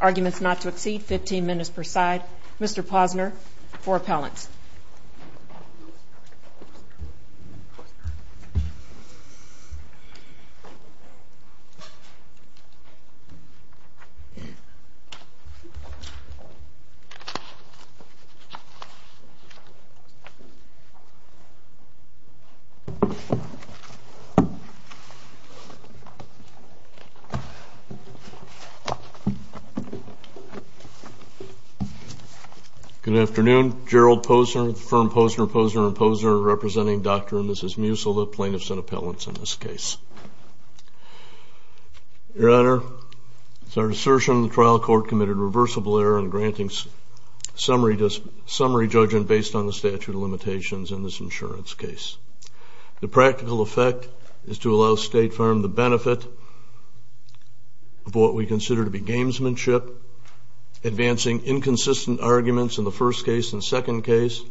Arguments not to exceed 15 minutes per side. Mr. Posner for appellants. Good afternoon. Gerald Posner, the firm Posner, Posner & Posner, representing Dr. and Mrs. Musil, the plaintiffs and appellants in this case. Your Honor, it is our assertion that the trial court committed reversible error in granting summary judgment based on the statute of limitations in this insurance case. The practical effect is to allow State Farm the benefit of what we consider to be gamesmanship, advancing inconsistent arguments in the first case and second case,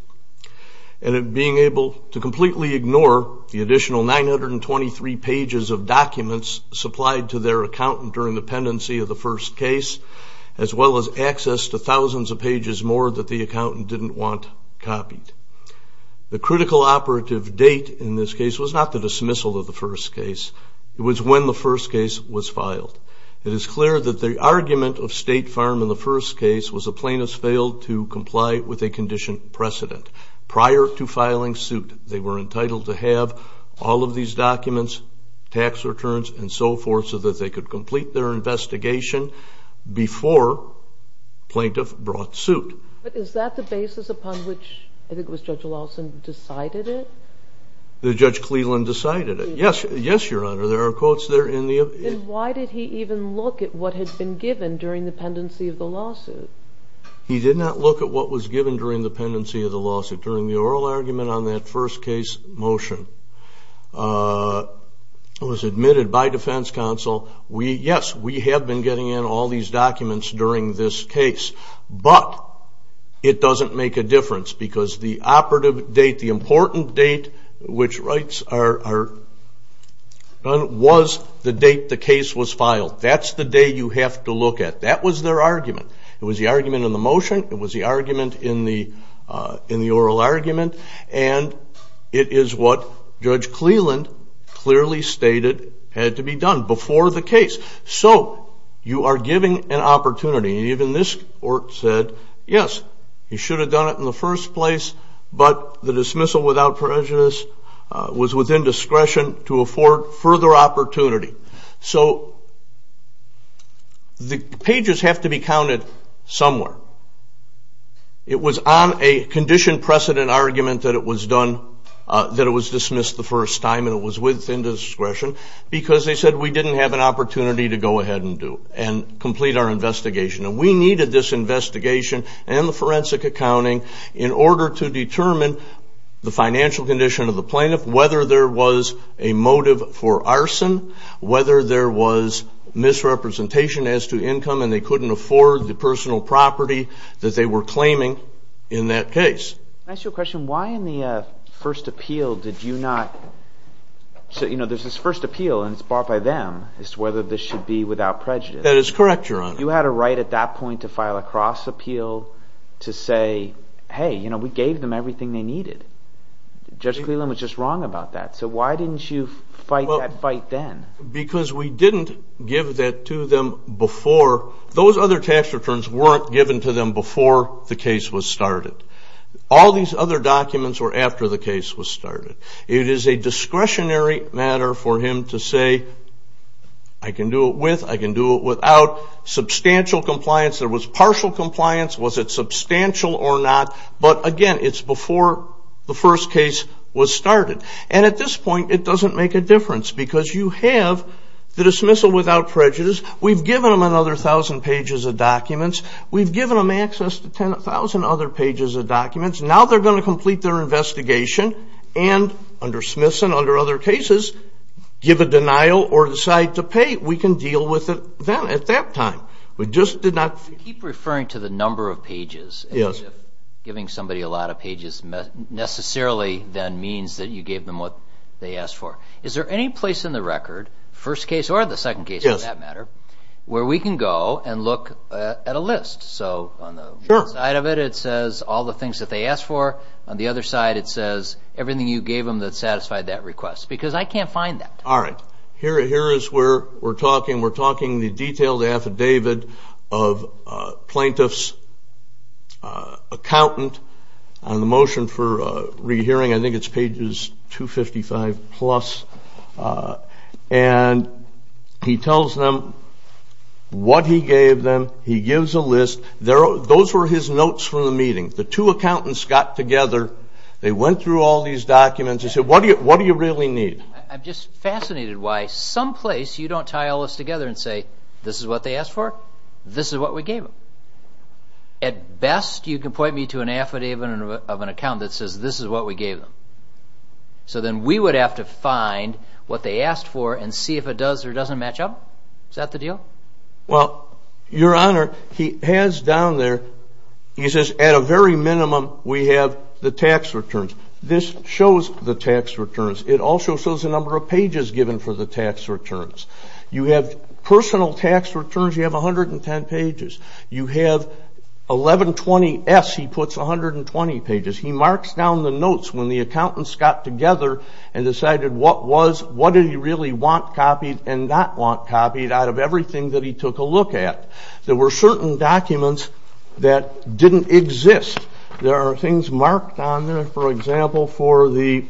and being able to completely ignore the additional 923 pages of documents supplied to their accountant during the pendency of the first case, as well as access to thousands of pages more that the accountant didn't want copied. The critical operative date in this case was not the dismissal of the first case. It was when the first case was filed. It is clear that the argument of State Farm in the first case was the plaintiffs failed to comply with a condition precedent prior to filing suit. They were entitled to have all of these documents, tax returns, and so forth, so that they could complete their investigation before plaintiff brought suit. But is that the basis upon which, I think it was Judge Lawson, decided it? The Judge Cleland decided it. Yes, Your Honor. There are quotes there in the opinion. Then why did he even look at what had been given during the pendency of the lawsuit? He did not look at what was given during the pendency of the lawsuit. During the oral argument on that first case motion, it was admitted by defense counsel, yes, we have been getting in all these documents during this case, but it doesn't make a difference because the operative date, the important date, which rights are done, was the date the case was filed. That's the day you have to look at. That was their argument. It was the argument in the motion, it was the argument in the oral argument, and it is what Judge Cleland clearly stated had to be done before the case. So you are giving an opportunity, and even this court said, yes, you should have done it in the first place, but the dismissal without prejudice was within discretion to afford further opportunity. So the pages have to be counted somewhere. It was on a condition precedent argument that it was dismissed the first time, and it was within discretion because they said we didn't have an opportunity to go ahead and complete our investigation. We needed this investigation and the forensic accounting in order to determine the financial condition of the plaintiff, whether there was a motive for arson, whether there was misrepresentation as to income, and they couldn't afford the personal property that they were claiming in that case. Can I ask you a question? Why in the first appeal did you not say, you know, there's this first appeal, and it's brought by them as to whether this should be without prejudice. That is correct, Your Honor. You had a right at that point to file a cross appeal to say, hey, you know, we gave them everything they needed. Judge Cleland was just wrong about that. So why didn't you fight that fight then? Because we didn't give that to them before. Those other tax returns weren't given to them before the case was started. All these other documents were after the case was started. It is a discretionary matter for him to say, I can do it with, I can do it without. Substantial compliance, there was partial compliance. Was it substantial or not? But, again, it's before the first case was started. And at this point, it doesn't make a difference because you have the dismissal without prejudice. We've given them another 1,000 pages of documents. We've given them access to 10,000 other pages of documents. Now they're going to complete their investigation and, under Smithson, under other cases, give a denial or decide to pay. We can deal with it then at that time. You keep referring to the number of pages. Giving somebody a lot of pages necessarily then means that you gave them what they asked for. Is there any place in the record, first case or the second case for that matter, where we can go and look at a list? So on the one side of it, it says all the things that they asked for. On the other side, it says everything you gave them that satisfied that request. Because I can't find that. All right. Here is where we're talking. We're talking the detailed affidavit of plaintiff's accountant on the motion for rehearing. I think it's pages 255 plus. And he tells them what he gave them. He gives a list. Those were his notes from the meeting. The two accountants got together. They went through all these documents. They said, what do you really need? I'm just fascinated why some place you don't tie all this together and say, this is what they asked for, this is what we gave them. At best, you can point me to an affidavit of an accountant that says this is what we gave them. So then we would have to find what they asked for and see if it does or doesn't match up. Is that the deal? Well, Your Honor, he has down there, he says, at a very minimum, we have the tax returns. This shows the tax returns. It also shows the number of pages given for the tax returns. You have personal tax returns, you have 110 pages. You have 1120S, he puts, 120 pages. He marks down the notes when the accountants got together and decided what was, what did he really want copied and not want copied out of everything that he took a look at. There were certain documents that didn't exist. There are things marked on there, for example, for the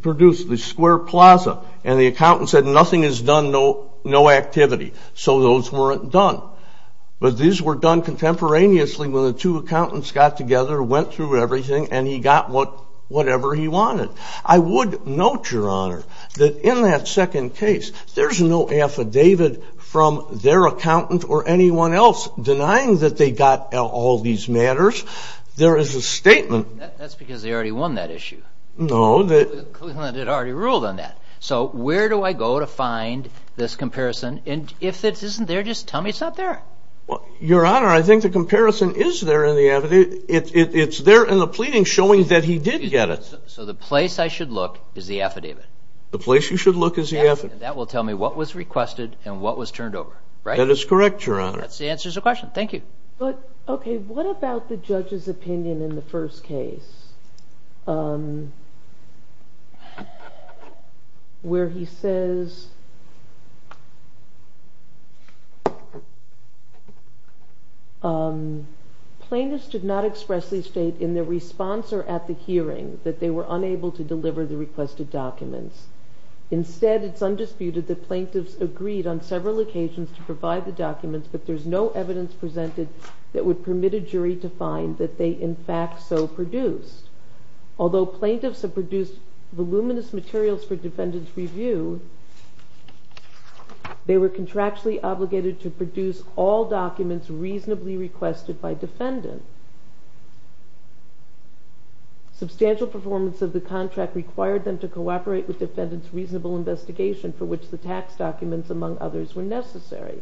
produce, the Square Plaza, and the accountant said nothing is done, no activity. So those weren't done. But these were done contemporaneously when the two accountants got together, went through everything, and he got whatever he wanted. I would note, Your Honor, that in that second case, there's no affidavit from their accountant or anyone else denying that they got all these matters. There is a statement. That's because they already won that issue. No. Cleveland had already ruled on that. So where do I go to find this comparison? And if it isn't there, just tell me it's not there. Your Honor, I think the comparison is there in the affidavit. It's there in the pleading showing that he did get it. So the place I should look is the affidavit? The place you should look is the affidavit. And that will tell me what was requested and what was turned over, right? That is correct, Your Honor. That answers the question. Thank you. Okay. What about the judge's opinion in the first case where he says, Plaintiffs did not expressly state in their response or at the hearing that they were unable to deliver the requested documents. Instead, it's undisputed that plaintiffs agreed on several occasions to provide the documents, but there's no evidence presented that would permit a jury to find that they in fact so produced. Although plaintiffs have produced voluminous materials for defendant's review, they were contractually obligated to produce all documents reasonably requested by defendant. Substantial performance of the contract required them to cooperate with defendant's reasonable investigation for which the tax documents, among others, were necessary.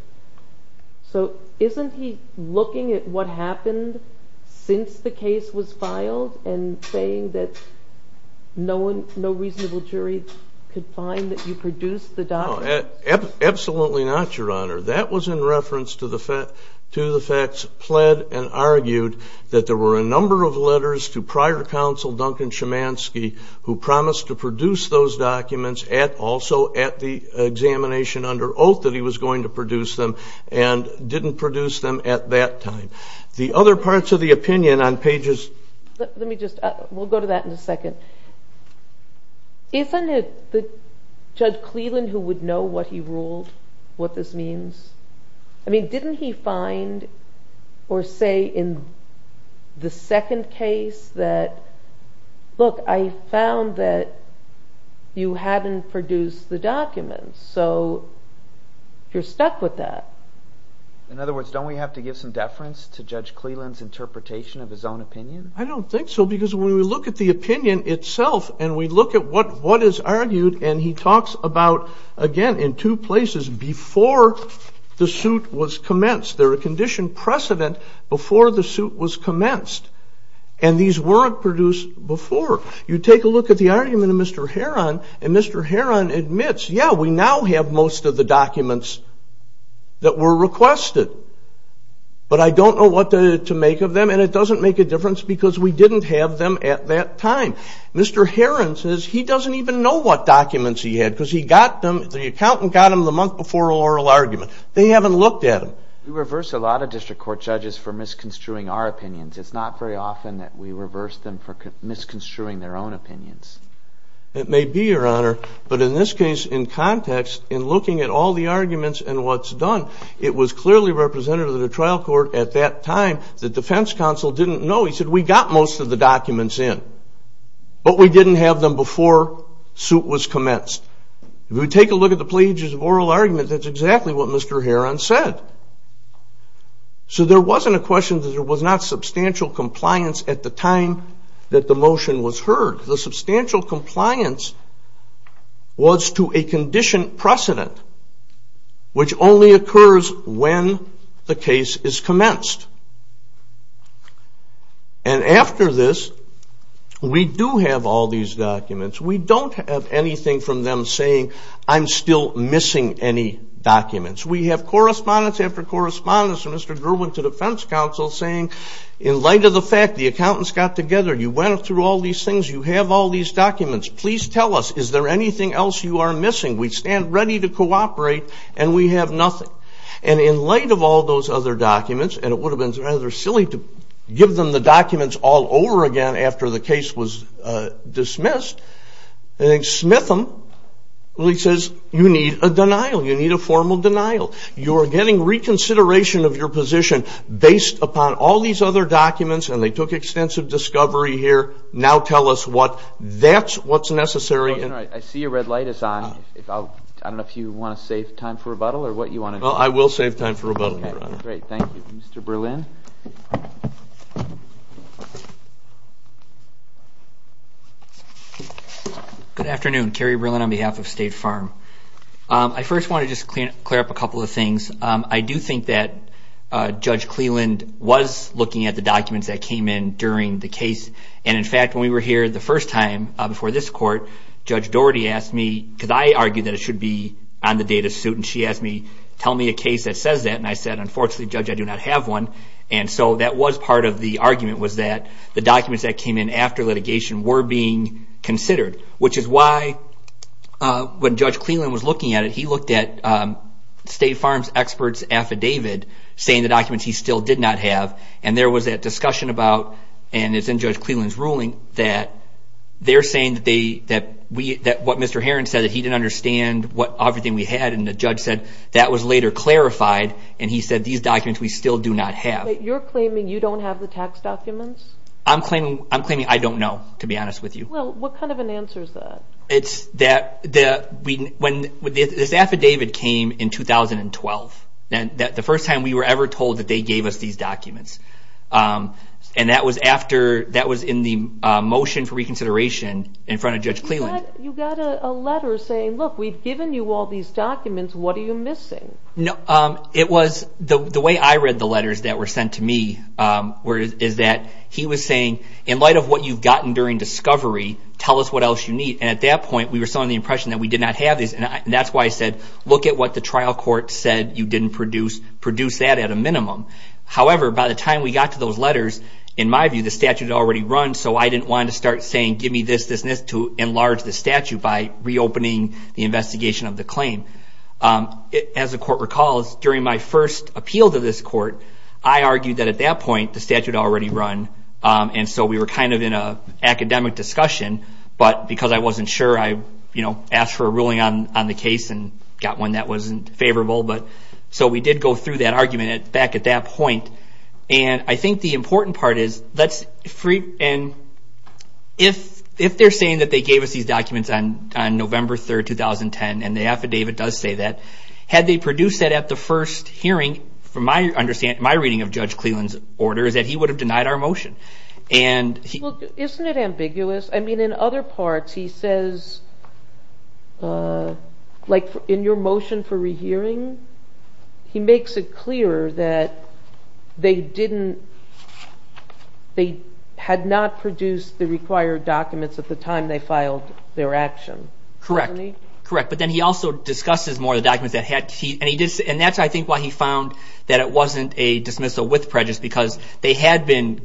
So isn't he looking at what happened since the case was filed and saying that no reasonable jury could find that you produced the documents? Absolutely not, Your Honor. That was in reference to the facts pled and argued that there were a number of letters to prior counsel, Duncan Chemansky, who promised to produce those documents also at the examination under oath that he was going to produce them and didn't produce them at that time. The other parts of the opinion on pages... Let me just, we'll go to that in a second. Isn't it Judge Cleland who would know what he ruled, what this means? I mean, didn't he find or say in the second case that, look, I found that you hadn't produced the documents, so you're stuck with that. In other words, don't we have to give some deference to Judge Cleland's interpretation of his own opinion? I don't think so because when we look at the opinion itself and we look at what is argued and he talks about, again, in two places before the suit was commenced. There were condition precedent before the suit was commenced and these weren't produced before. You take a look at the argument of Mr. Heron and Mr. Heron admits, yeah, we now have most of the documents that were requested, but I don't know what to make of them and it doesn't make a difference because we didn't have them at that time. Mr. Heron says he doesn't even know what documents he had because he got them, the accountant got them the month before oral argument. They haven't looked at them. We reverse a lot of district court judges for misconstruing our opinions. It's not very often that we reverse them for misconstruing their own opinions. It may be, Your Honor, but in this case, in context, in looking at all the arguments and what's done, it was clearly representative of the trial court at that time that the defense counsel didn't know. He said, we got most of the documents in, but we didn't have them before suit was commenced. If we take a look at the pages of oral argument, that's exactly what Mr. Heron said. So there wasn't a question that there was not substantial compliance at the time that the motion was heard. The substantial compliance was to a condition precedent, which only occurs when the case is commenced. And after this, we do have all these documents. We don't have anything from them saying, I'm still missing any documents. We have correspondence after correspondence from Mr. Gerwin to defense counsel saying, in light of the fact the accountants got together, you went through all these things, you have all these documents, please tell us, is there anything else you are missing? We stand ready to cooperate, and we have nothing. And in light of all those other documents, and it would have been rather silly to give them the documents all over again after the case was dismissed, Smitham really says, you need a denial, you need a formal denial. You are getting reconsideration of your position based upon all these other documents, and they took extensive discovery here, now tell us what, that's what's necessary. I see your red light is on. I don't know if you want to save time for rebuttal or what you want to do. I will save time for rebuttal, Your Honor. Great, thank you. Mr. Berlin? Good afternoon, Kerry Berlin on behalf of State Farm. I first want to just clear up a couple of things. I do think that Judge Cleland was looking at the documents that came in during the case, and in fact when we were here the first time before this court, Judge Doherty asked me, because I argued that it should be on the data suit, and she asked me, tell me a case that says that, and I said, unfortunately, Judge, I do not have one, and so that was part of the argument was that the documents that came in after litigation were being considered, which is why when Judge Cleland was looking at it, he looked at State Farm's expert's affidavit saying the documents he still did not have, and there was that discussion about, and it's in Judge Cleland's ruling, that they're saying that what Mr. Herron said, that he didn't understand everything we had, and the judge said that was later clarified, and he said these documents we still do not have. You're claiming you don't have the tax documents? I'm claiming I don't know, to be honest with you. Well, what kind of an answer is that? This affidavit came in 2012, the first time we were ever told that they gave us these documents, and that was in the motion for reconsideration in front of Judge Cleland. But you got a letter saying, look, we've given you all these documents, what are you missing? The way I read the letters that were sent to me is that he was saying, in light of what you've gotten during discovery, tell us what else you need, and at that point we were still under the impression that we did not have these, and that's why I said, look at what the trial court said you didn't produce, produce that at a minimum. However, by the time we got to those letters, in my view, the statute had already run, so I didn't want to start saying, give me this, this, and this, to enlarge the statute by reopening the investigation of the claim. As the court recalls, during my first appeal to this court, I argued that at that point the statute had already run, and so we were kind of in an academic discussion, but because I wasn't sure, I asked for a ruling on the case and got one that wasn't favorable. So we did go through that argument back at that point. I think the important part is, if they're saying that they gave us these documents on November 3, 2010, and the affidavit does say that, had they produced that at the first hearing, from my understanding, my reading of Judge Cleland's order, is that he would have denied our motion. Isn't it ambiguous? I mean, in other parts he says, like in your motion for rehearing, he makes it clear that they didn't, they had not produced the required documents at the time they filed their action, doesn't he? Correct, but then he also discusses more of the documents that had to be, and that's, I think, why he found that it wasn't a dismissal with prejudice, because they had been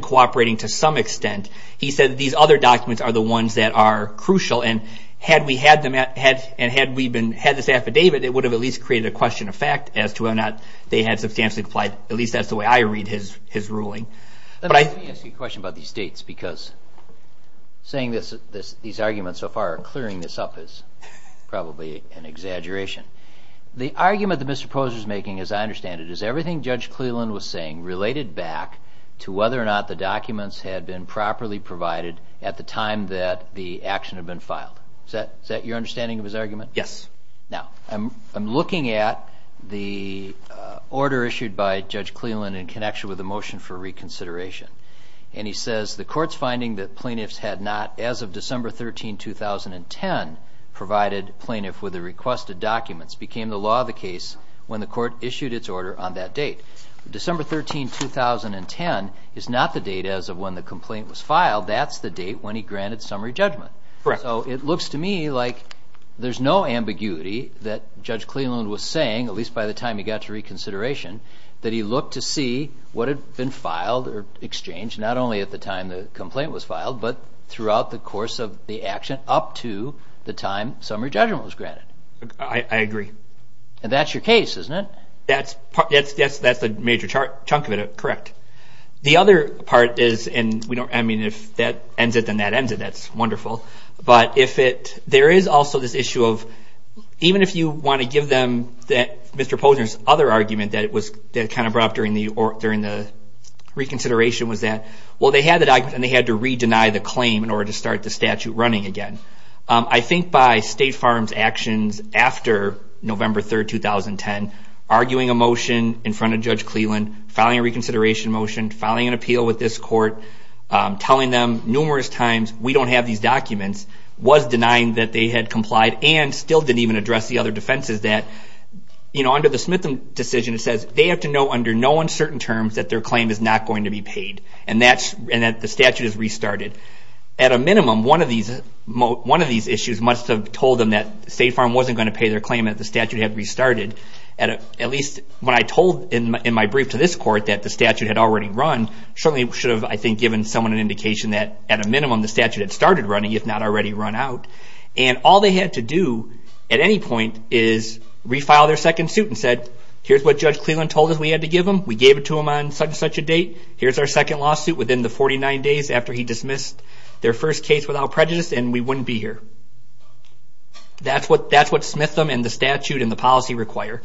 cooperating to some extent. He said that these other documents are the ones that are crucial, and had we had this affidavit, it would have at least created a question of fact as to whether or not they had substantially complied. At least that's the way I read his ruling. Let me ask you a question about these dates, because saying these arguments so far are clearing this up is probably an exaggeration. The argument that Mr. Posner is making, as I understand it, is everything Judge Cleland was saying related back to whether or not the documents had been properly provided at the time that the action had been filed. Is that your understanding of his argument? Yes. Now, I'm looking at the order issued by Judge Cleland in connection with the motion for reconsideration, and he says the court's finding that plaintiffs had not, as of December 13, 2010, provided plaintiff with the requested documents became the law of the case when the court issued its order on that date. December 13, 2010 is not the date as of when the complaint was filed. That's the date when he granted summary judgment. Correct. So it looks to me like there's no ambiguity that Judge Cleland was saying, at least by the time he got to reconsideration, that he looked to see what had been filed or exchanged, not only at the time the complaint was filed, but throughout the course of the action up to the time summary judgment was granted. I agree. And that's your case, isn't it? That's the major chunk of it, correct. The other part is, and if that ends it, then that ends it. That's wonderful. But there is also this issue of even if you want to give them Mr. Posner's other argument that kind of brought up during the reconsideration was that, well, they had the document and they had to re-deny the claim in order to start the statute running again. I think by State Farm's actions after November 3, 2010, arguing a motion in front of Judge Cleland, filing a reconsideration motion, filing an appeal with this court, telling them numerous times, we don't have these documents, was denying that they had complied and still didn't even address the other defenses that, you know, under the Smith decision it says they have to know under no uncertain terms that their claim is not going to be paid and that the statute is restarted. At a minimum, one of these issues must have told them that State Farm wasn't going to pay their claim that the statute had restarted. At least when I told in my brief to this court that the statute had already run, certainly should have, I think, given someone an indication that, at a minimum, the statute had started running, if not already run out. And all they had to do at any point is refile their second suit and said, here's what Judge Cleland told us we had to give them. We gave it to them on such and such a date. Here's our second lawsuit within the 49 days after he dismissed their first case without prejudice and we wouldn't be here. That's what Smith and the statute and the policy require,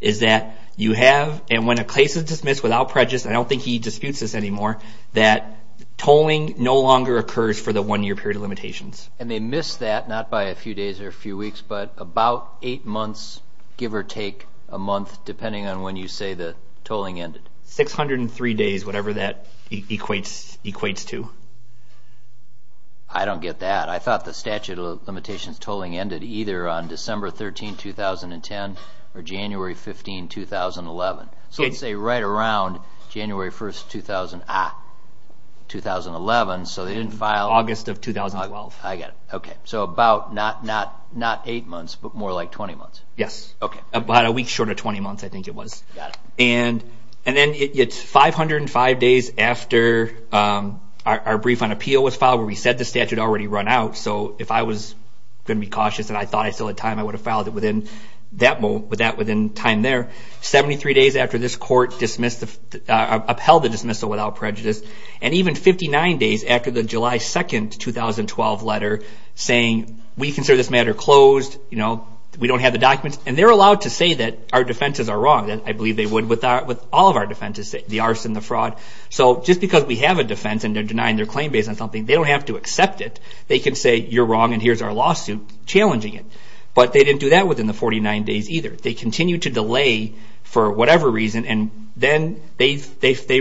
is that you have, and when a case is dismissed without prejudice, I don't think he disputes this anymore, that tolling no longer occurs for the one-year period of limitations. And they miss that, not by a few days or a few weeks, but about eight months, give or take a month, depending on when you say the tolling ended. 603 days, whatever that equates to. I don't get that. I thought the statute of limitations tolling ended either on December 13, 2010, or January 15, 2011. So I'd say right around January 1, 2011. August of 2012. I get it. So about not eight months, but more like 20 months. Yes. About a week short of 20 months, I think it was. And then it's 505 days after our brief on appeal was filed, where we said the statute had already run out. So if I was going to be cautious and I thought I still had time, I would have filed it within that time there. 73 days after this court upheld the dismissal without prejudice, and even 59 days after the July 2, 2012 letter saying, we consider this matter closed, we don't have the documents. And they're allowed to say that our defenses are wrong. I believe they would with all of our defenses, the arson, the fraud. So just because we have a defense and they're denying their claim based on something, they don't have to accept it. They can say you're wrong and here's our lawsuit challenging it. But they didn't do that within the 49 days either. They continued to delay for whatever reason, and then they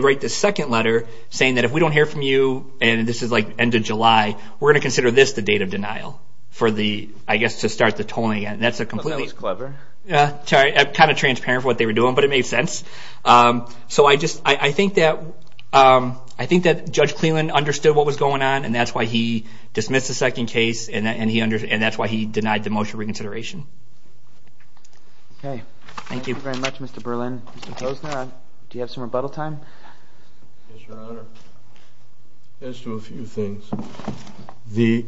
write the second letter saying that if we don't hear from you and this is like end of July, we're going to consider this the date of denial for the, I guess, to start the tolling again. That's a completely... I thought that was clever. Sorry. Kind of transparent for what they were doing, but it made sense. So I think that Judge Cleland understood what was going on and that's why he dismissed the second case and that's why he denied the motion of reconsideration. Okay. Thank you. Thank you very much, Mr. Berlin. Mr. Posner, do you have some rebuttal time? Yes, Your Honor. As to a few things. The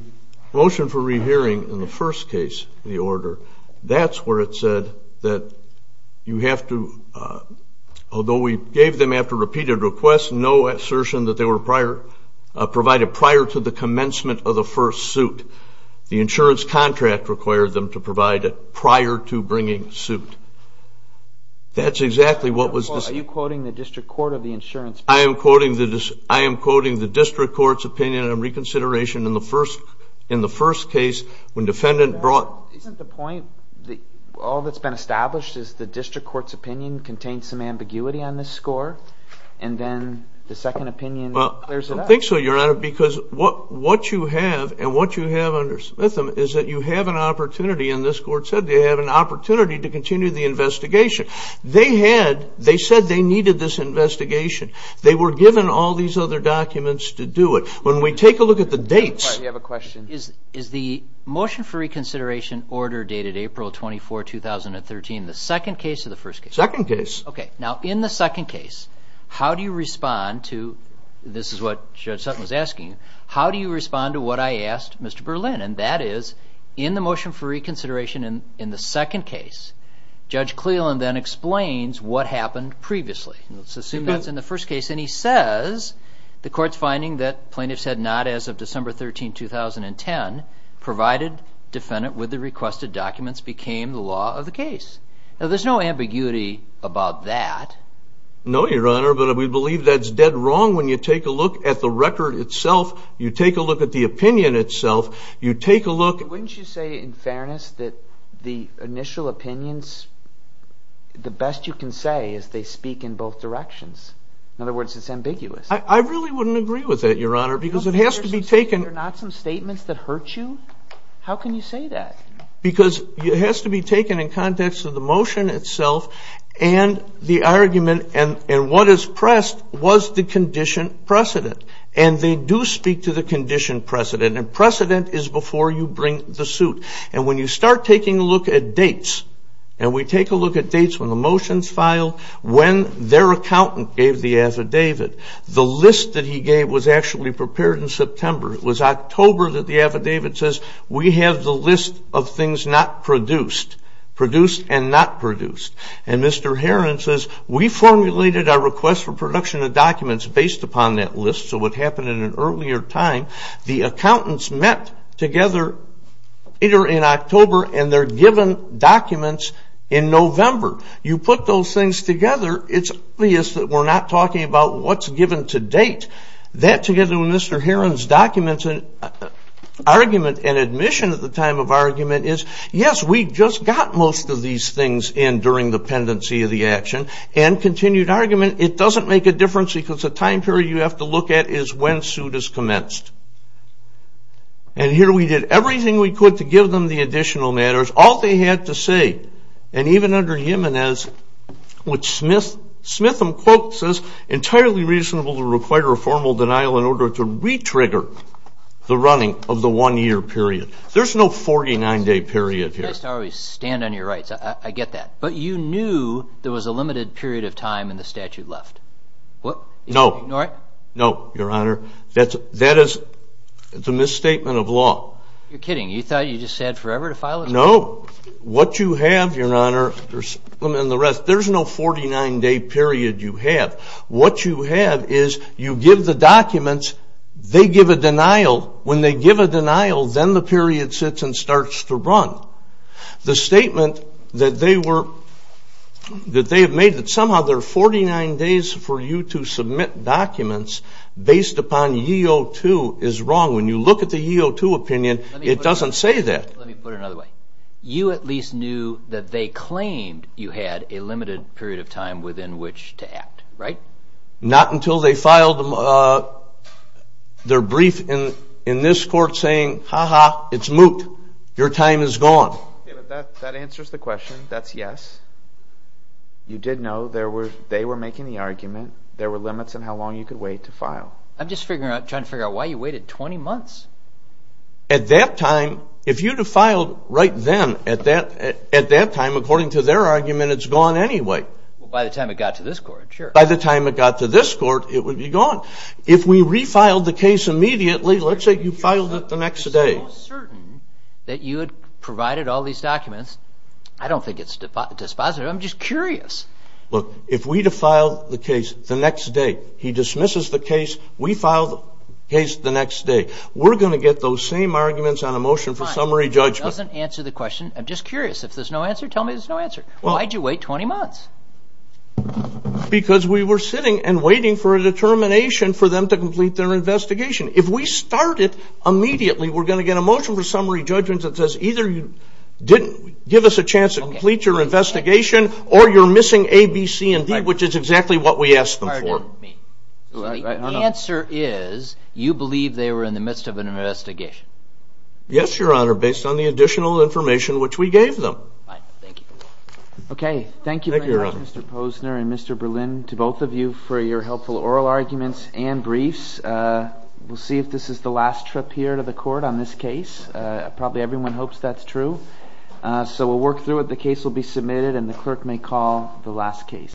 motion for rehearing in the first case, the order, that's where it said that you have to, although we gave them after repeated requests no assertion that they were provided prior to the commencement of the first suit. The insurance contract required them to provide it prior to bringing suit. That's exactly what was... Are you quoting the District Court of the insurance? I am quoting the District Court's opinion on reconsideration in the first case when defendant brought... Isn't the point that all that's been established is the District Court's opinion contains some ambiguity on this score and then the second opinion clears it up? I don't think so, Your Honor, because what you have under smythem is that you have an opportunity, and this court said they have an opportunity to continue the investigation. They said they needed this investigation. They were given all these other documents to do it. When we take a look at the dates... Do you have a question? Is the motion for reconsideration order dated April 24, 2013, the second case or the first case? Second case. Okay. Now, in the second case, how do you respond to... This is what Judge Sutton was asking. How do you respond to what I asked Mr. Berlin, and that is in the motion for reconsideration in the second case, Judge Cleland then explains what happened previously. Let's assume that's in the first case, and he says the court's finding that plaintiffs had not, as of December 13, 2010, provided defendant with the requested documents became the law of the case. Now, there's no ambiguity about that. No, Your Honor, but we believe that's dead wrong when you take a look at the record itself, you take a look at the opinion itself, you take a look... Wouldn't you say, in fairness, that the initial opinions, the best you can say is they speak in both directions? In other words, it's ambiguous. I really wouldn't agree with that, Your Honor, because it has to be taken... Aren't there some statements that hurt you? How can you say that? Because it has to be taken in context of the motion itself and the argument and what is pressed was the condition precedent, and they do speak to the condition precedent, and precedent is before you bring the suit. And when you start taking a look at dates, and we take a look at dates when the motions filed, when their accountant gave the affidavit, the list that he gave was actually prepared in September. It was October that the affidavit says, we have the list of things not produced, produced and not produced. And Mr. Heron says, we formulated our request for production of documents based upon that list, so what happened in an earlier time, the accountants met together later in October and they're given documents in November. You put those things together, it's obvious that we're not talking about what's given to date. That together with Mr. Heron's documents and argument and admission at the time of argument is, yes, we just got most of these things in during the pendency of the action, and continued argument, it doesn't make a difference because the time period you have to look at is when suit is commenced. And here we did everything we could to give them the additional matters. All they had to say, and even under Jimenez, which Smith quote says, entirely reasonable to require a formal denial in order to re-trigger the running of the one-year period. There's no 49-day period here. You guys always stand on your rights, I get that. But you knew there was a limited period of time in the statute left. No. Ignore it? No, Your Honor. That is the misstatement of law. You're kidding. You thought you just had forever to file it? No. What you have, Your Honor, and the rest, there's no 49-day period you have. What you have is you give the documents, they give a denial. When they give a denial, then the period sits and starts to run. The statement that they have made that somehow there are 49 days for you to submit documents based upon EO2 is wrong. When you look at the EO2 opinion, it doesn't say that. Let me put it another way. You at least knew that they claimed you had a limited period of time within which to act, right? Not until they filed their brief in this court saying, ha-ha, it's moot, your time is gone. That answers the question. That's yes. You did know they were making the argument. There were limits on how long you could wait to file. I'm just trying to figure out why you waited 20 months. At that time, if you had filed right then, at that time, according to their argument, it's gone anyway. By the time it got to this court, sure. By the time it got to this court, it would be gone. If we refiled the case immediately, let's say you filed it the next day. I'm certain that you had provided all these documents. I don't think it's dispositive. I'm just curious. Look, if we defile the case the next day, he dismisses the case, we file the case the next day. We're going to get those same arguments on a motion for summary judgment. Fine. It doesn't answer the question. I'm just curious. If there's no answer, tell me there's no answer. Why did you wait 20 months? Because we were sitting and waiting for a determination for them to complete their investigation. If we start it immediately, we're going to get a motion for summary judgment that says either you didn't give us a chance to complete your investigation or you're missing A, B, C, and D, which is exactly what we asked them for. The answer is you believe they were in the midst of an investigation. Yes, Your Honor, based on the additional information which we gave them. Fine. Thank you. Okay. Thank you very much, Mr. Posner and Mr. Berlin, to both of you for your helpful oral arguments and briefs. We'll see if this is the last trip here to the court on this case. Probably everyone hopes that's true. So we'll work through it. The case will be submitted and the clerk may call the last case.